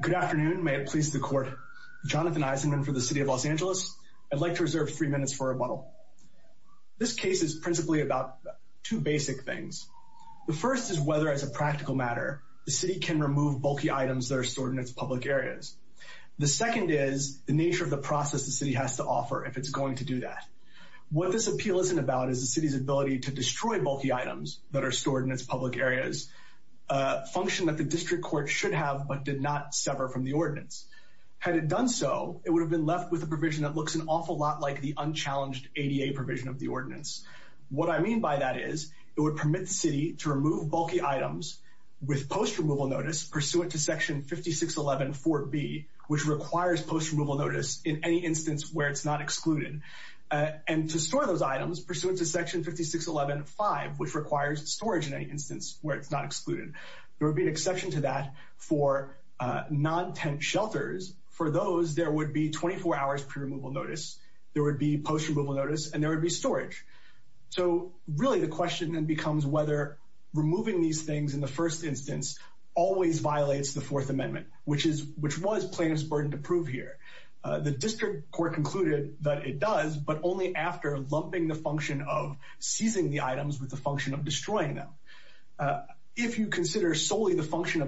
Good afternoon, may it please the court. Jonathan Eisenman for the City of Los Angeles. I'd like to reserve three minutes for a rebuttal. This case is principally about two basic things. The first is whether as a practical matter the city can remove bulky items that are stored in its public areas. The second is the nature of the process the city has to offer if it's going to do that. What this appeal isn't about is the city's ability to destroy bulky items that are stored in its public areas, a function that the district court should have but did not sever from the ordinance. Had it done so it would have been left with a provision that looks an awful lot like the unchallenged ADA provision of the ordinance. What I mean by that is it would permit the city to remove bulky items with post removal notice pursuant to section 5611 4b which requires post removal notice in any instance where it's not excluded and to store those items pursuant to section 5611 5 which requires storage in any instance where it's not excluded. There would be an exception to that for non-tent shelters. For those there would be 24 hours pre-removal notice, there would be post removal notice, and there would be storage. So really the question then becomes whether removing these things in the first instance always violates the Fourth Amendment which is which was plaintiff's burden to prove here. The district court concluded that it does but only after lumping the function of seizing the items with the function of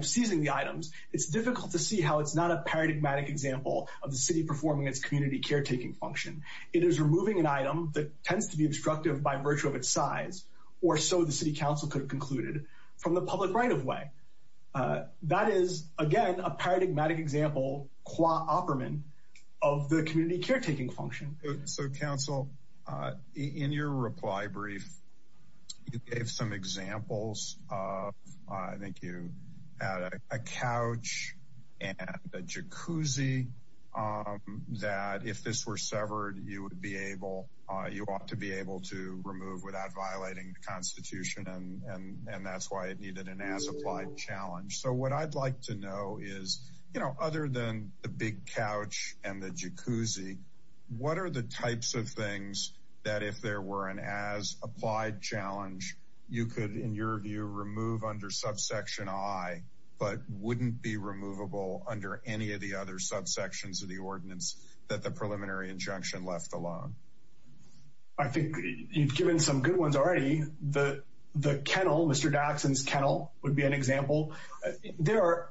seizing the items it's difficult to see how it's not a paradigmatic example of the city performing its community caretaking function. It is removing an item that tends to be obstructive by virtue of its size or so the City Council could have concluded from the public right-of-way. That is again a paradigmatic example qua operament of the community caretaking function. So a couch and a jacuzzi that if this were severed you would be able you ought to be able to remove without violating the Constitution and and that's why it needed an as-applied challenge. So what I'd like to know is you know other than the big couch and the jacuzzi what are the types of things that if there were an as-applied challenge you could in your view remove under subsection I but wouldn't be removable under any of the other subsections of the ordinance that the preliminary injunction left alone? I think you've given some good ones already the the kennel Mr. Daxson's kennel would be an example. There are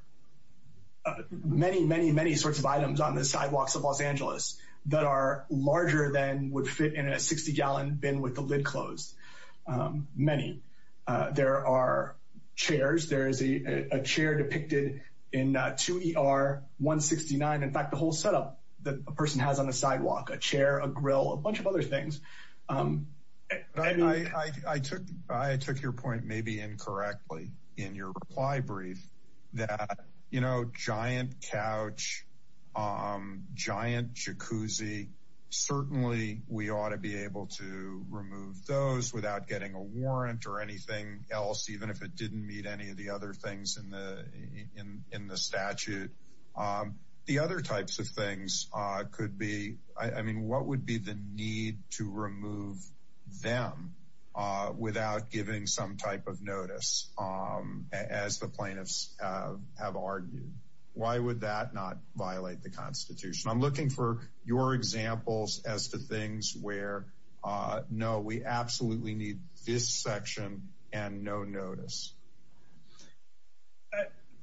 many many many sorts of items on the sidewalks of Los Angeles that are larger than would fit in a 60-gallon bin with the lid closed. Many. There are chairs there is a chair depicted in 2 ER 169 in fact the whole setup that a person has on the sidewalk a chair a grill a bunch of other things. I took your point maybe incorrectly in your reply brief that you know giant couch giant jacuzzi certainly we ought to be able to remove those without getting a warrant or anything else even if it didn't meet any of the other things in the in in the statute. The other types of things could be I mean what would be the need to remove them without giving some type of notice as the plaintiffs have argued. Why would that not violate the Constitution? I'm looking for your examples as to things where no we absolutely need this section and no notice.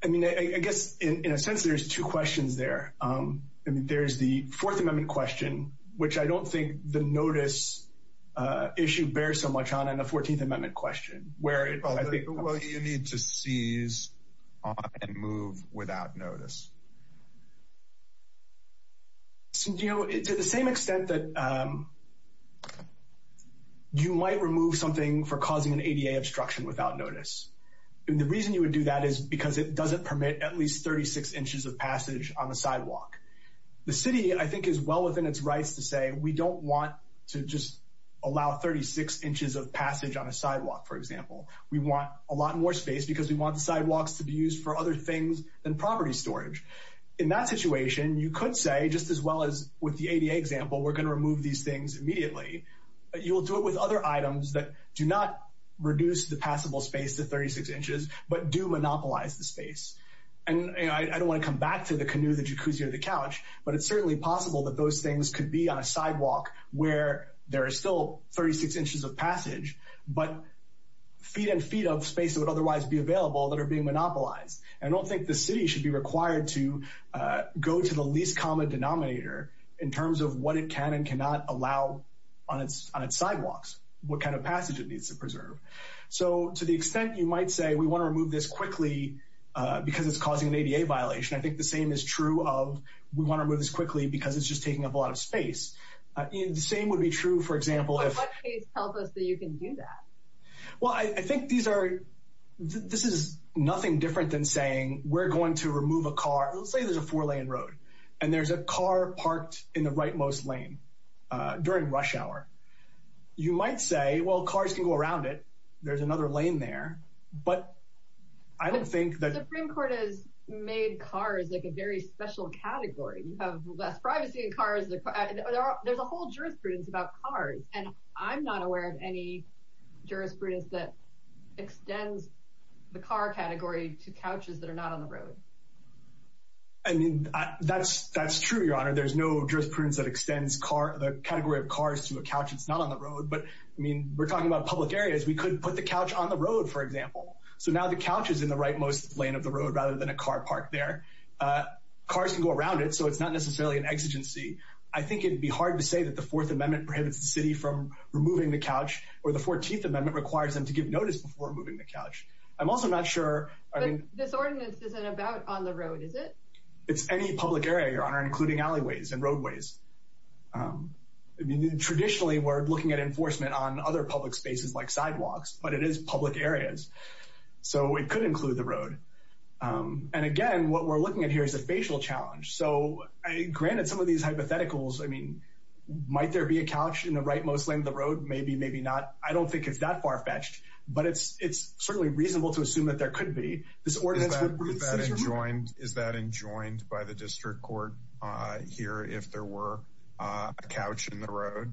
I mean I guess in a sense there's two questions there and there's the Fourth Amendment question which I don't think the notice issue bears so much on in the 14th Amendment question where you need to seize and move without notice. You know it's at the same extent that you might remove something for causing an ADA obstruction without notice and the reason you would do that is because it doesn't permit at least 36 inches of passage on the sidewalk. The city I think is well within its rights to say we don't want to just allow 36 inches of sidewalk for example. We want a lot more space because we want the sidewalks to be used for other things than property storage. In that situation you could say just as well as with the ADA example we're going to remove these things immediately but you will do it with other items that do not reduce the passable space to 36 inches but do monopolize the space and I don't want to come back to the canoe the jacuzzi or the couch but it's certainly possible that those things could be on a sidewalk where there are still 36 inches of feet and feet of space that would otherwise be available that are being monopolized. I don't think the city should be required to go to the least common denominator in terms of what it can and cannot allow on its on its sidewalks. What kind of passage it needs to preserve. So to the extent you might say we want to remove this quickly because it's causing an ADA violation I think the same is true of we want to move this quickly because it's just taking up a lot of space. The same would be true for example if what case tells us that you can do that? Well I think these are this is nothing different than saying we're going to remove a car. Let's say there's a four lane road and there's a car parked in the rightmost lane during rush hour. You might say well cars can go around it there's another lane there but I don't think that the Supreme Court has made cars like a very special category. You have less privacy in cars. There's a whole jurisprudence about cars and I'm not aware of any jurisprudence that extends the car category to couches that are not on the road. I mean that's that's true your honor there's no jurisprudence that extends car the category of cars to a couch it's not on the road but I mean we're talking about public areas we could put the couch on the road for example. So now the couch is in the rightmost lane of the road rather than a car parked there. Cars can go around it so it's not necessarily an exigency. I think it'd be hard to say that the Fourth Amendment prohibits the removing the couch or the 14th Amendment requires them to give notice before moving the couch. I'm also not sure. This ordinance isn't about on the road is it? It's any public area your honor including alleyways and roadways. Traditionally we're looking at enforcement on other public spaces like sidewalks but it is public areas so it could include the road and again what we're looking at here is a facial challenge. So granted some of these hypotheticals I mean might there be a couch in the rightmost lane of the road maybe maybe not I don't think it's that far-fetched but it's it's certainly reasonable to assume that there could be. Is that enjoined by the district court here if there were a couch in the road?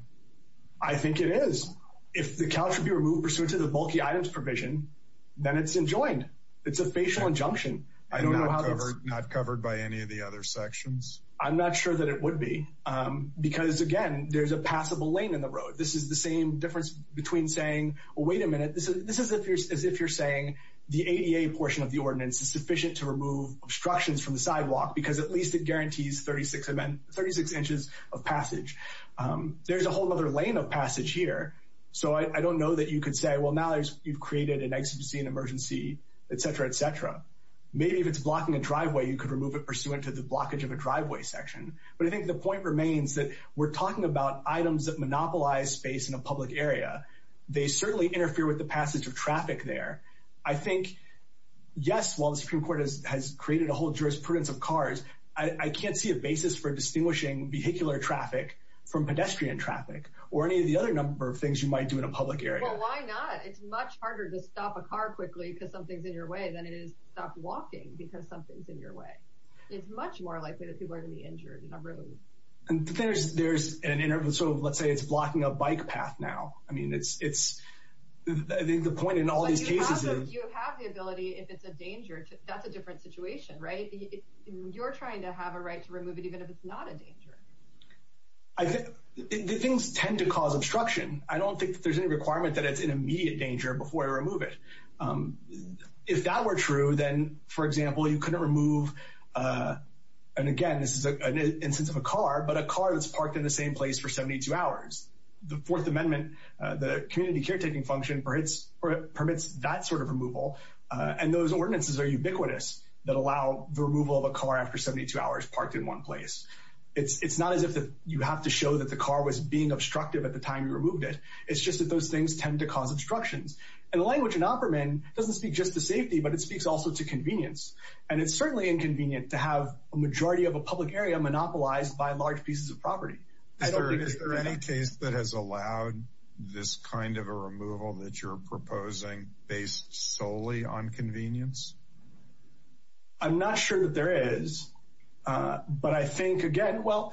I think it is. If the couch would be removed pursuant to the bulky items provision then it's enjoined. It's a facial injunction. Not covered by any of the other sections? I'm not sure that it would be because again there's a passable lane in the road. This is the same difference between saying wait a minute this is this is if you're as if you're saying the ADA portion of the ordinance is sufficient to remove obstructions from the sidewalk because at least it guarantees 36 inches of passage. There's a whole other lane of passage here so I don't know that you could say well now there's you've created an exigency an emergency etc etc. Maybe if it's blocking a driveway you could remove it pursuant to the blockage of a driveway section. But I think the point remains that we're talking about items that monopolize space in a public area. They certainly interfere with the passage of traffic there. I think yes while the Supreme Court has created a whole jurisprudence of cars I can't see a basis for distinguishing vehicular traffic from pedestrian traffic or any of the other number of things you might do in a public area. Well why not? It's much harder to stop a car quickly because something's in your way than it is to stop walking because something's in your way. It's much more likely that people are to be injured in a room. And there's there's an interval so let's say it's blocking a bike path now. I mean it's it's I think the point in all these cases is. You have the ability if it's a danger that's a different situation right? You're trying to have a right to remove it even if it's not a danger. I think things tend to cause obstruction. I don't think there's any requirement that it's an immediate danger before I remove it. If that were true then for example you couldn't remove and again this is an instance of a car but a car that's parked in the same place for 72 hours. The Fourth Amendment the community caretaking function permits that sort of removal and those ordinances are ubiquitous that allow the removal of a car after 72 hours parked in one place. It's it's not as if you have to show that the car was being obstructive at the time you removed it. It's just that those things tend to cause obstructions. And the language in Opperman doesn't speak just to safety but it speaks also to convenience. And it's certainly inconvenient to have a majority of a public area monopolized by large pieces of property. Is there any case that has allowed this kind of a removal that you're proposing based solely on convenience? I'm not sure that there is but I think again well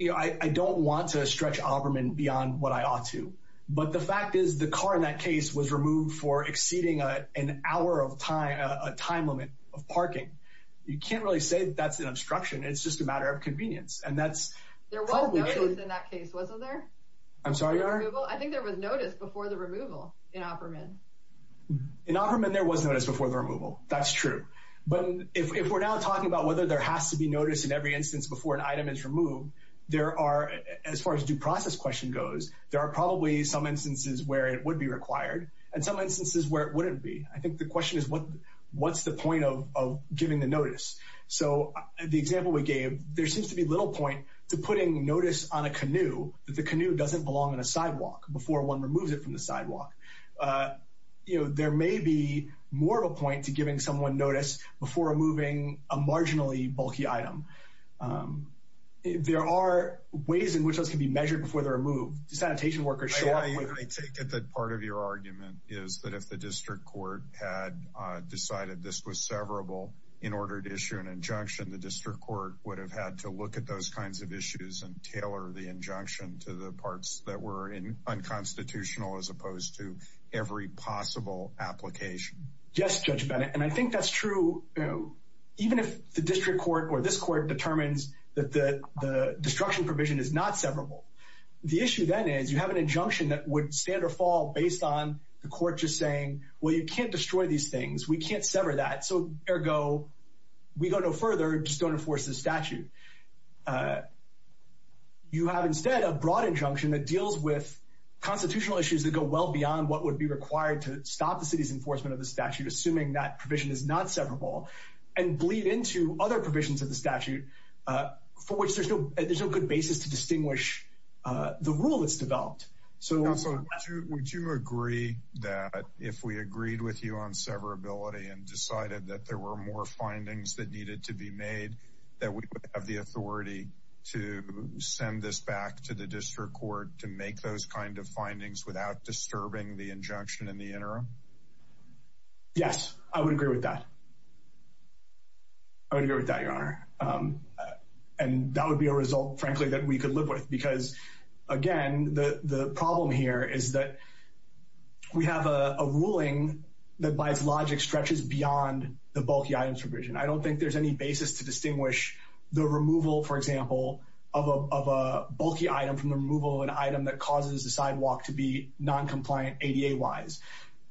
you know I don't want to stretch Opperman beyond what I to but the fact is the car in that case was removed for exceeding an hour of time a time limit of parking. You can't really say that's an obstruction it's just a matter of convenience and that's I'm sorry I think there was notice before the removal in Opperman. In Opperman there was notice before the removal that's true but if we're now talking about whether there has to be notice in every instance before an item is removed there are as far as due process question goes there are probably some instances where it would be required and some instances where it wouldn't be. I think the question is what what's the point of giving the notice? So the example we gave there seems to be little point to putting notice on a canoe that the canoe doesn't belong in a sidewalk before one removes it from the sidewalk. You know there may be more of a point to giving someone notice before removing a marginally bulky item. There are ways in which those can be measured before they're removed. Sanitation workers show up. I take it that part of your argument is that if the district court had decided this was severable in order to issue an injunction the district court would have had to look at those kinds of issues and tailor the injunction to the parts that were in unconstitutional as opposed to every possible application. Yes Judge Bennett and I think that's true even if the destruction provision is not severable. The issue then is you have an injunction that would stand or fall based on the court just saying well you can't destroy these things we can't sever that so ergo we go no further just don't enforce this statute. You have instead a broad injunction that deals with constitutional issues that go well beyond what would be required to stop the city's enforcement of the statute assuming that provision is not severable and bleed into other good basis to distinguish the rule that's developed. So would you agree that if we agreed with you on severability and decided that there were more findings that needed to be made that we would have the authority to send this back to the district court to make those kind of findings without disturbing the injunction in the interim? Yes I would agree with that. I would agree with that and that would be a result frankly that we could live with because again the the problem here is that we have a ruling that by its logic stretches beyond the bulky items provision. I don't think there's any basis to distinguish the removal for example of a bulky item from the removal of an item that causes the sidewalk to be non-compliant ADA wise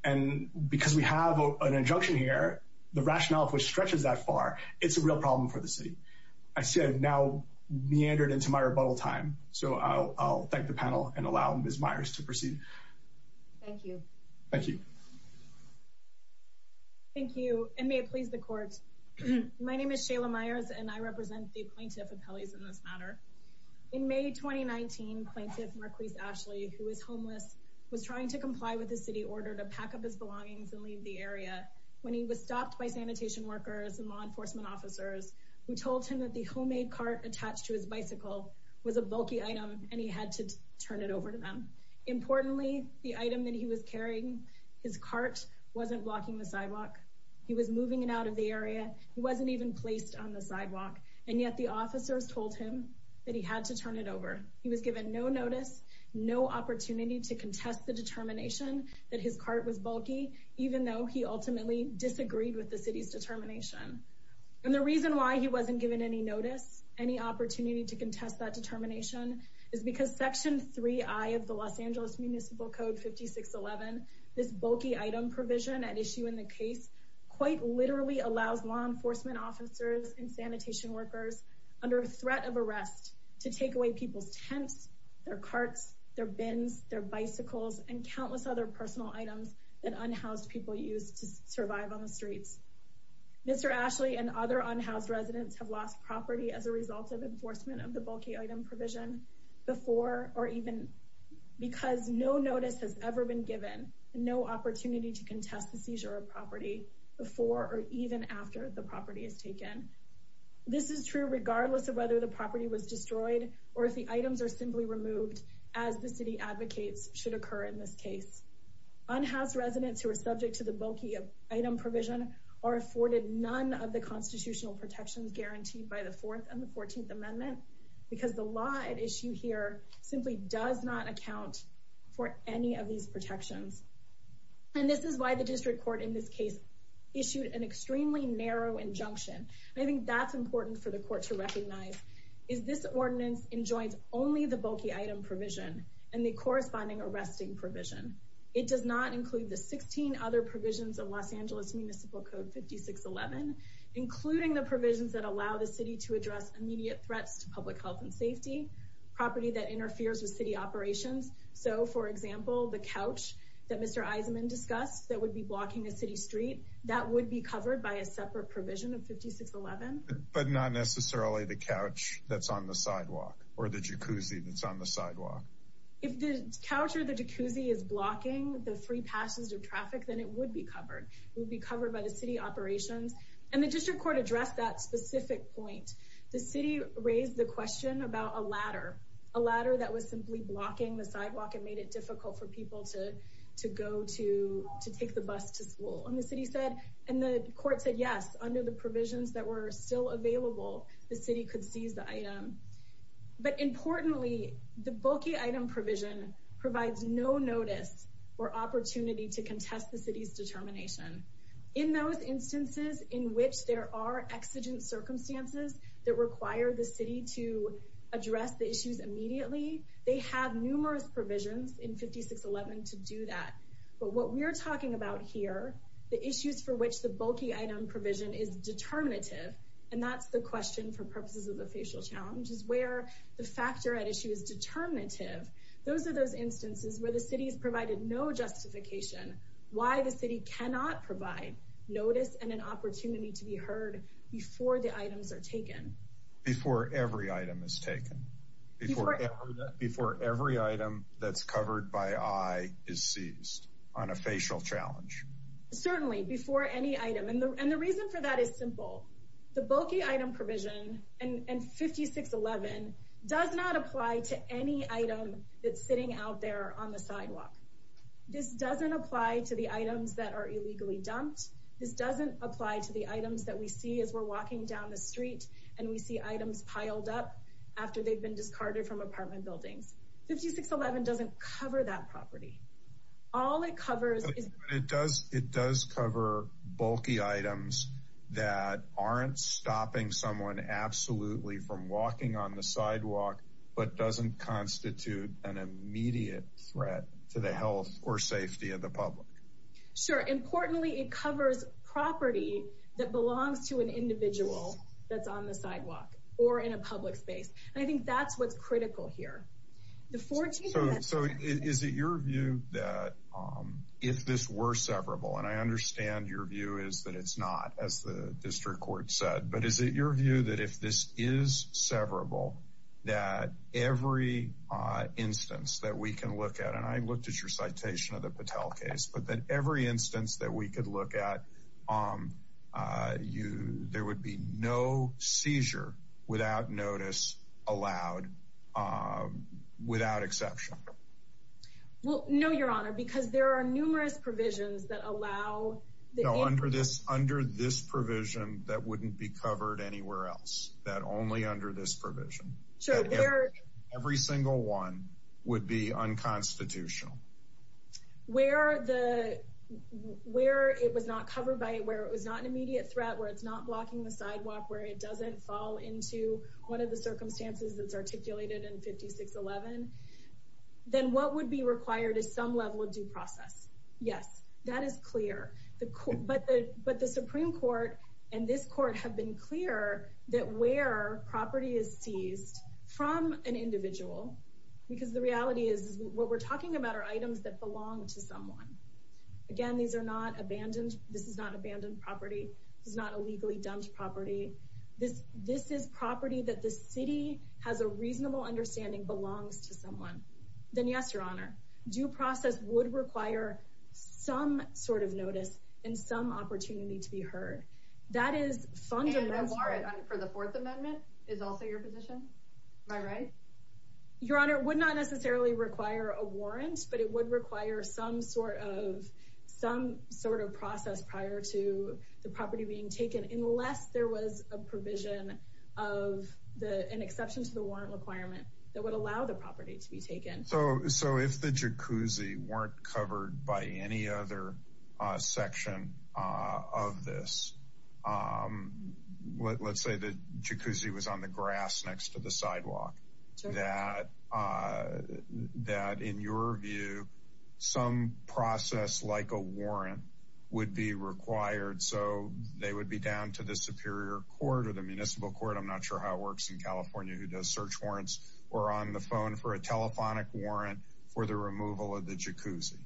and because we have an injunction here the rationale which stretches that far it's a real problem for the city. I see I've now meandered into my rebuttal time so I'll thank the panel and allow Ms. Myers to proceed. Thank you. Thank you. Thank you and may it please the court. My name is Shayla Myers and I represent the plaintiff of Pelley's in this matter. In May 2019 plaintiff Marquise Ashley who is homeless was trying to comply with the city order to pack up his belongings and leave the area when he was stopped by sanitation workers and law enforcement officers who told him that the homemade cart attached to his bicycle was a bulky item and he had to turn it over to them. Importantly the item that he was carrying his cart wasn't blocking the sidewalk. He was moving it out of the area. He wasn't even placed on the sidewalk and yet the officers told him that he had to turn it over. He was given no notice, no opportunity to contest the determination that his cart was bulky even though he ultimately disagreed with the city's determination. And the reason why he wasn't given any notice, any opportunity to contest that determination is because section 3i of the Los Angeles Municipal Code 5611 this bulky item provision at issue in the case quite literally allows law enforcement officers and sanitation workers under a tent, their carts, their bins, their bicycles, and countless other personal items that unhoused people use to survive on the streets. Mr. Ashley and other unhoused residents have lost property as a result of enforcement of the bulky item provision before or even because no notice has ever been given, no opportunity to contest the seizure of property before or even after the property is taken. This is true regardless of whether the property was seized or not. Items are simply removed as the city advocates should occur in this case. Unhoused residents who are subject to the bulky item provision are afforded none of the constitutional protections guaranteed by the 4th and the 14th amendment because the law at issue here simply does not account for any of these protections. And this is why the district court in this case issued an extremely narrow injunction. I think that's important for the court to only the bulky item provision and the corresponding arresting provision. It does not include the 16 other provisions of Los Angeles Municipal Code 5611 including the provisions that allow the city to address immediate threats to public health and safety, property that interferes with city operations. So for example the couch that Mr. Eisenman discussed that would be blocking a city street, that would be covered by a separate provision of 5611. But not necessarily the couch that's on the sidewalk or the jacuzzi that's on the sidewalk. If the couch or the jacuzzi is blocking the free passage of traffic then it would be covered. It would be covered by the city operations. And the district court addressed that specific point. The city raised the question about a ladder. A ladder that was simply blocking the sidewalk and made it difficult for people to to go to to take the bus to school. And the city said and the court said yes under the provisions that were still available the city could seize the item. But importantly the bulky item provision provides no notice or opportunity to contest the city's determination. In those instances in which there are exigent circumstances that require the city to address the issues immediately, they have numerous provisions in 5611 to do that. But what we're talking about here, the issues for which the bulky item provision is determinative, and that's the question for purposes of the facial challenge, is where the factor at issue is determinative. Those are those instances where the city has provided no justification why the city cannot provide notice and an opportunity to be heard before the items are taken. Before every item is taken. Before every item that's covered by eye is seized on a facial challenge. Certainly before any item. And the reason for that is simple. The bulky item provision and 5611 does not apply to any item that's sitting out there on the sidewalk. This doesn't apply to the items that are illegally dumped. This doesn't apply to the items that we see as we're walking down the street and we see items piled up after they've been discarded from apartment buildings. 5611 doesn't cover that property. All it covers is... It does, it does cover bulky items that aren't stopping someone absolutely from walking on the sidewalk but doesn't constitute an immediate threat to the health or safety of the public. Sure. Importantly, it covers property that belongs to an individual that's on the sidewalk or in a public space. I think that's what's critical here. So is it your view that if this were severable, and I understand your view is that it's not as the district court said, but is it your view that if this is severable, that every instance that we can look at, and I looked at your citation of the Patel case, but that every instance that we could look at, there would be no seizure without notice allowed without exception? Well, no, Your Honor, because there are numerous provisions that allow... No, under this under this provision that wouldn't be covered anywhere else, that only under this provision. Every single one would be unconstitutional. Where the... Where it was not an immediate threat, where it's not blocking the sidewalk, where it doesn't fall into one of the circumstances that's articulated in 5611, then what would be required is some level of due process. Yes, that is clear. But the Supreme Court and this court have been clear that where property is seized from an individual, because the reality is what we're talking about are items that belong to someone. Again, these are not abandoned. This is not abandoned property. This is not illegally dumped property. This is property that the city has a reasonable understanding belongs to someone. Then yes, Your Honor, due process would require some sort of notice and some opportunity to be heard. That is fundamental. And a warrant for the Fourth Amendment is also your position? Am I right? Your Honor, it would not necessarily require a warrant, but it would require some sort of process prior to the property being taken, unless there was a provision of an exception to the warrant requirement that would allow the property to be taken. So if the jacuzzi weren't covered by any other section of this, let's say the jacuzzi was on the grass next to the sidewalk, that in your view some process like a warrant would be required. So they would be down to the Superior Court of the Municipal Court. I'm not sure how it works in California who does search warrants or on the phone for a telephonic warrant for the removal of the jacuzzi.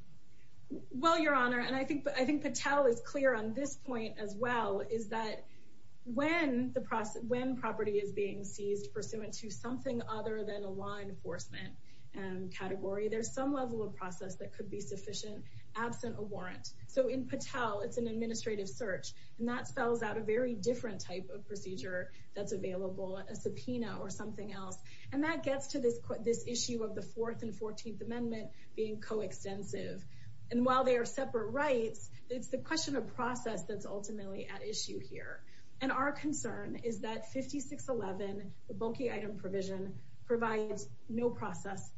Well, Your Honor, and I think I think Patel is clear on this point as well, is that when the when property is being seized pursuant to something other than a law enforcement category, there's some level of process that could be sufficient absent a warrant. So in Patel it's an administrative search and that spells out a very different type of procedure that's available, a subpoena or something else. And that gets to this issue of the 4th and 14th Amendment being co-extensive. And while they are separate rights, it's the question of process that's ultimately at issue here. And our concern is that 5611, the bulky item provision, provides no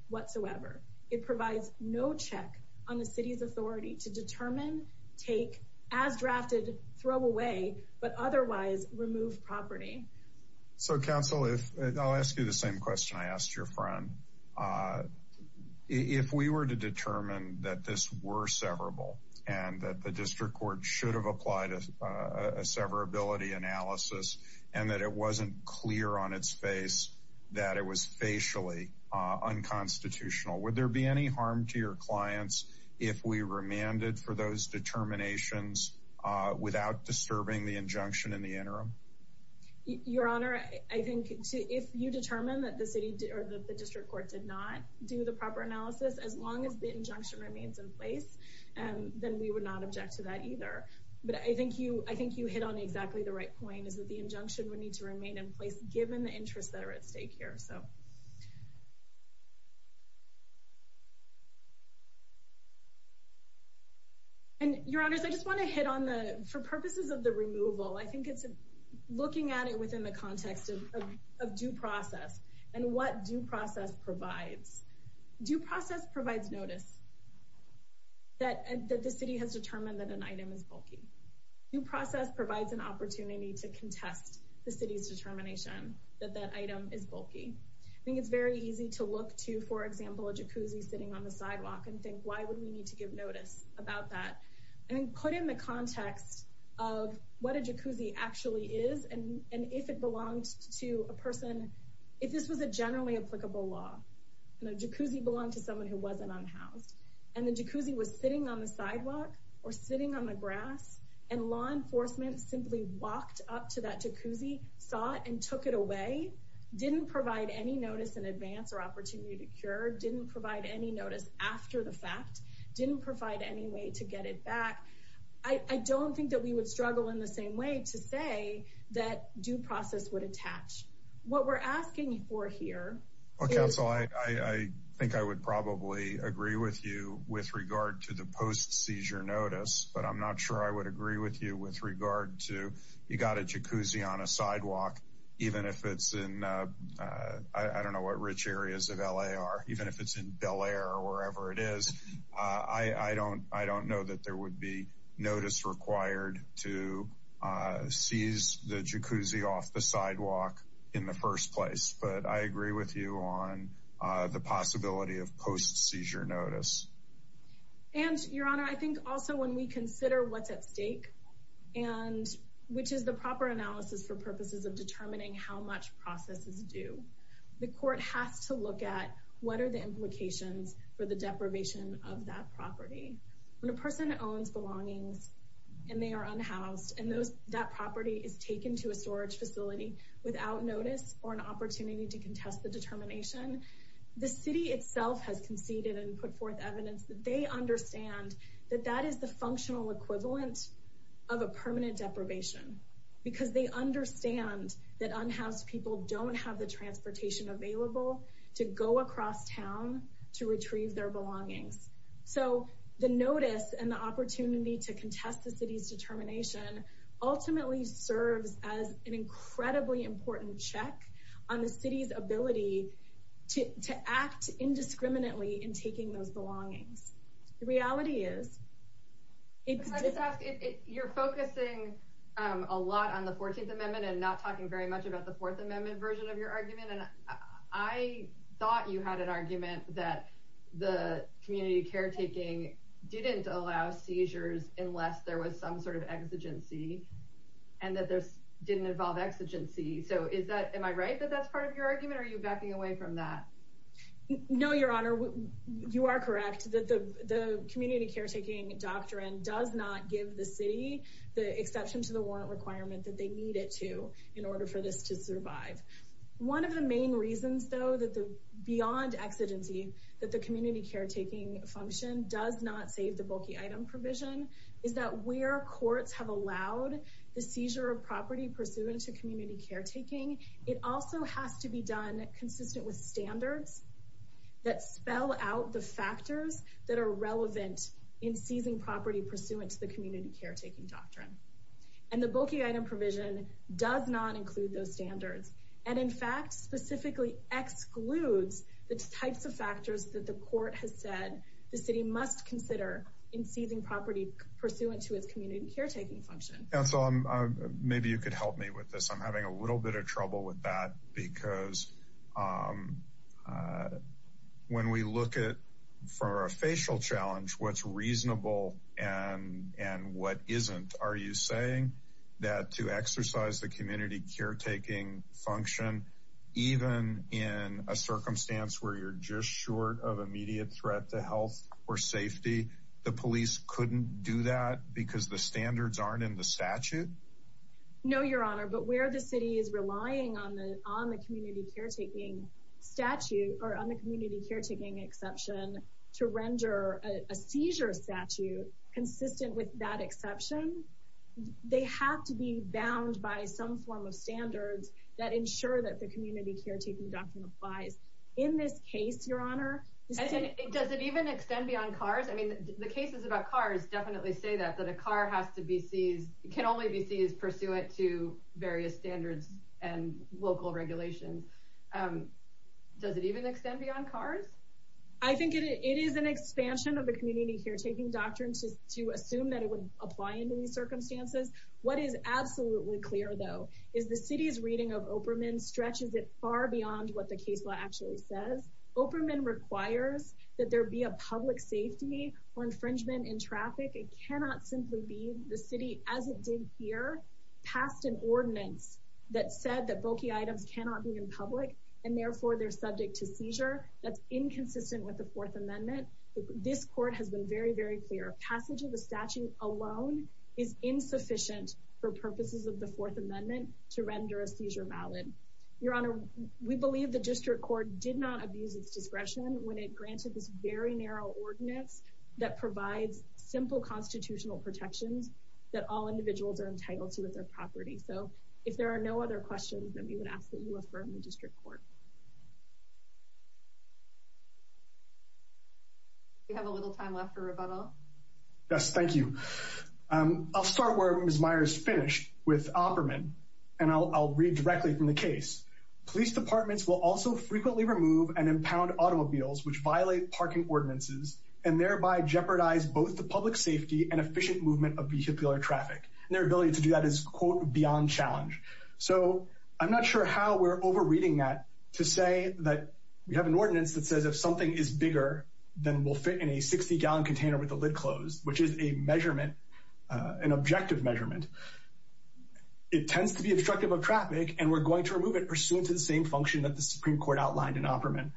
whatsoever. It provides no check on the city's authority to determine, take, as drafted, throw away, but otherwise remove property. So counsel, if I'll ask you the same question I asked your friend, uh, if we were to determine that this were severable and that the district court should have applied a severability analysis and that it wasn't clear on its face that it was facially unconstitutional, would there be any harm to your clients if we remanded for those determinations without disturbing the injunction in the interim? Your honor, I think if you determine that the city or the district court did not do the proper analysis, as long as the injunction remains in place, then we would not object to that either. But I think you I think you hit on exactly the right point is that the injunction would need to remain in place given the interests that are at stake here. So and your honors, I just want to hit on the for purposes of the removal, I think it's looking at it within the context of due process and what due process provides. Due process provides notice that the city has determined that an item is bulky. Due process provides an opportunity to contest the city's determination that that item is bulky. I think it's very easy to look to, for example, a jacuzzi sitting on the sidewalk and think, why would we need to give notice about that? And put in the context of what a jacuzzi actually is and if it belongs to a person, if this was a generally applicable law, and a jacuzzi belonged to someone who wasn't unhoused and the jacuzzi was sitting on the sidewalk or sitting on the grass and law enforcement simply walked up to that and took it away, didn't provide any notice in advance or opportunity to cure, didn't provide any notice after the fact, didn't provide any way to get it back. I don't think that we would struggle in the same way to say that due process would attach. What we're asking for here. Council, I think I would probably agree with you with regard to the post seizure notice, but I'm not sure I would agree with you with regard to you got a jacuzzi on a sidewalk, even if it's in, I don't know what rich areas of LA are, even if it's in Bel Air or wherever it is. I don't know that there would be notice required to seize the jacuzzi off the sidewalk in the first place, but I agree with you on the possibility of post seizure notice. And, Your Honor, I think also when we consider what's at stake and which is the proper analysis for purposes of determining how much process is due, the court has to look at what are the implications for the deprivation of that property. When a person owns belongings and they are unhoused and that property is taken to a storage facility without notice or an opportunity to contest the determination, the city itself has conceded and put forth evidence that they understand that that is the functional equivalent of a permanent deprivation, because they understand that unhoused people don't have the transportation available to go across town to retrieve their belongings. So the notice and the opportunity to contest the city's determination ultimately serves as an incredibly important check on the city's ability to act indiscriminately in taking those decisions. You're focusing a lot on the 14th Amendment and not talking very much about the Fourth Amendment version of your argument, and I thought you had an argument that the community caretaking didn't allow seizures unless there was some sort of exigency and that this didn't involve exigency. So is that, am I right that that's part of your argument? Are you backing away from that? No, Your community caretaking doctrine does not give the city the exception to the warrant requirement that they need it to in order for this to survive. One of the main reasons though that the beyond exigency that the community caretaking function does not save the bulky item provision is that where courts have allowed the seizure of property pursuant to community caretaking, it also has to be done consistent with standards that spell out the factors that are relevant in seizing property pursuant to the community caretaking doctrine. And the bulky item provision does not include those standards and in fact specifically excludes the types of factors that the court has said the city must consider in seizing property pursuant to its community caretaking function. Council, maybe you could help me with this. I'm having a little bit of trouble with that because when we look at for a facial challenge what's reasonable and and what isn't, are you saying that to exercise the community caretaking function even in a circumstance where you're just short of immediate threat to health or safety, the police couldn't do that because the standards aren't in the community caretaking statute or on the community caretaking exception to render a seizure statute consistent with that exception. They have to be bound by some form of standards that ensure that the community caretaking doctrine applies. In this case, your honor, does it even extend beyond cars? I mean the cases about cars definitely say that, that a car has to be seized, can only be seized pursuant to various standards and local regulations. Does it even extend beyond cars? I think it is an expansion of the community caretaking doctrine to assume that it would apply in these circumstances. What is absolutely clear though is the city's reading of Operman stretches it far beyond what the case law actually says. Operman requires that there be a public safety or infringement in traffic. It cannot simply be the city, as it did here, passed an ordinance that said that bulky items cannot be in public and therefore they're subject to seizure. That's inconsistent with the Fourth Amendment. This court has been very, very clear. Passage of the statute alone is insufficient for purposes of the Fourth Amendment to render a seizure valid. Your honor, we believe the district court did not abuse its discretion when it granted this very simple constitutional protections that all individuals are entitled to with their property. So, if there are no other questions, then we would ask that you affirm the district court. We have a little time left for rebuttal. Yes, thank you. I'll start where Ms. Meyers finished with Operman and I'll read directly from the case. Police departments will also frequently remove and impound automobiles which violate parking ordinances and thereby jeopardize both the public safety and efficient movement of vehicular traffic. Their ability to do that is, quote, beyond challenge. So, I'm not sure how we're over reading that to say that we have an ordinance that says if something is bigger than will fit in a 60 gallon container with the lid closed, which is a measurement, an objective measurement, it tends to be obstructive of traffic and we're going to remove it pursuant to the same function that the Supreme Court outlined in Operman.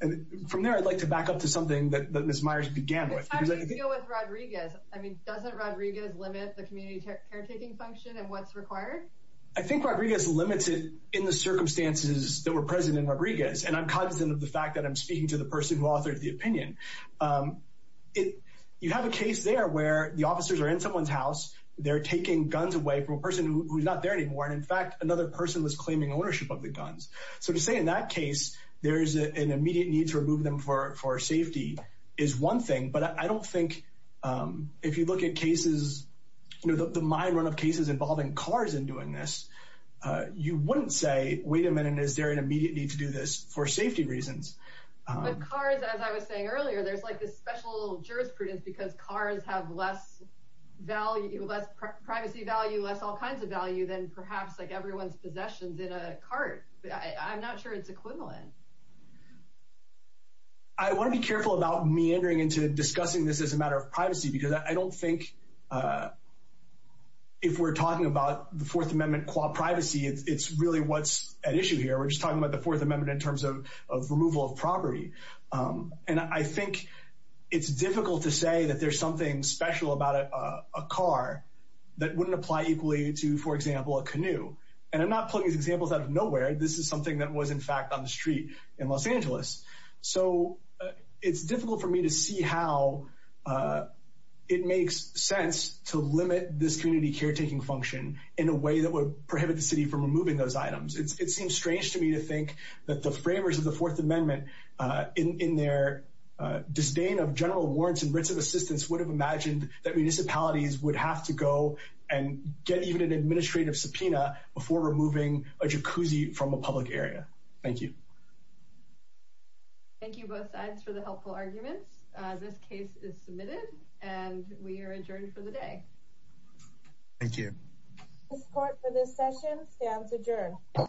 And from there, I'd like to back up to something that Ms. Meyers began with. How do you deal with Rodriguez? I mean, doesn't Rodriguez limit the community caretaking function and what's required? I think Rodriguez limits it in the circumstances that were present in Rodriguez and I'm cognizant of the fact that I'm speaking to the person who authored the opinion. You have a case there where the officers are in someone's house, they're taking guns away from a person who's not there anymore and in fact another person was claiming ownership of the guns. So, to say in that for safety is one thing, but I don't think if you look at cases, you know, the mind run of cases involving cars in doing this, you wouldn't say, wait a minute, is there an immediate need to do this for safety reasons? But cars, as I was saying earlier, there's like this special jurisprudence because cars have less value, less privacy value, less all kinds of value than perhaps like everyone's equivalent. I want to be careful about meandering into discussing this as a matter of privacy because I don't think if we're talking about the Fourth Amendment qua privacy, it's really what's at issue here. We're just talking about the Fourth Amendment in terms of removal of property and I think it's difficult to say that there's something special about a car that wouldn't apply equally to, for example, a canoe. And I'm not putting these examples out of nowhere. This is something that was in fact on the street in Los Angeles. So, it's difficult for me to see how it makes sense to limit this community caretaking function in a way that would prohibit the city from removing those items. It seems strange to me to think that the framers of the Fourth Amendment, in their disdain of general warrants and writs of assistance, would have imagined that municipalities would have to go and get even an administrative subpoena before removing a Thank you. Thank you both sides for the helpful arguments. This case is submitted and we are adjourned for the day. Thank you. The court for this session stands adjourned.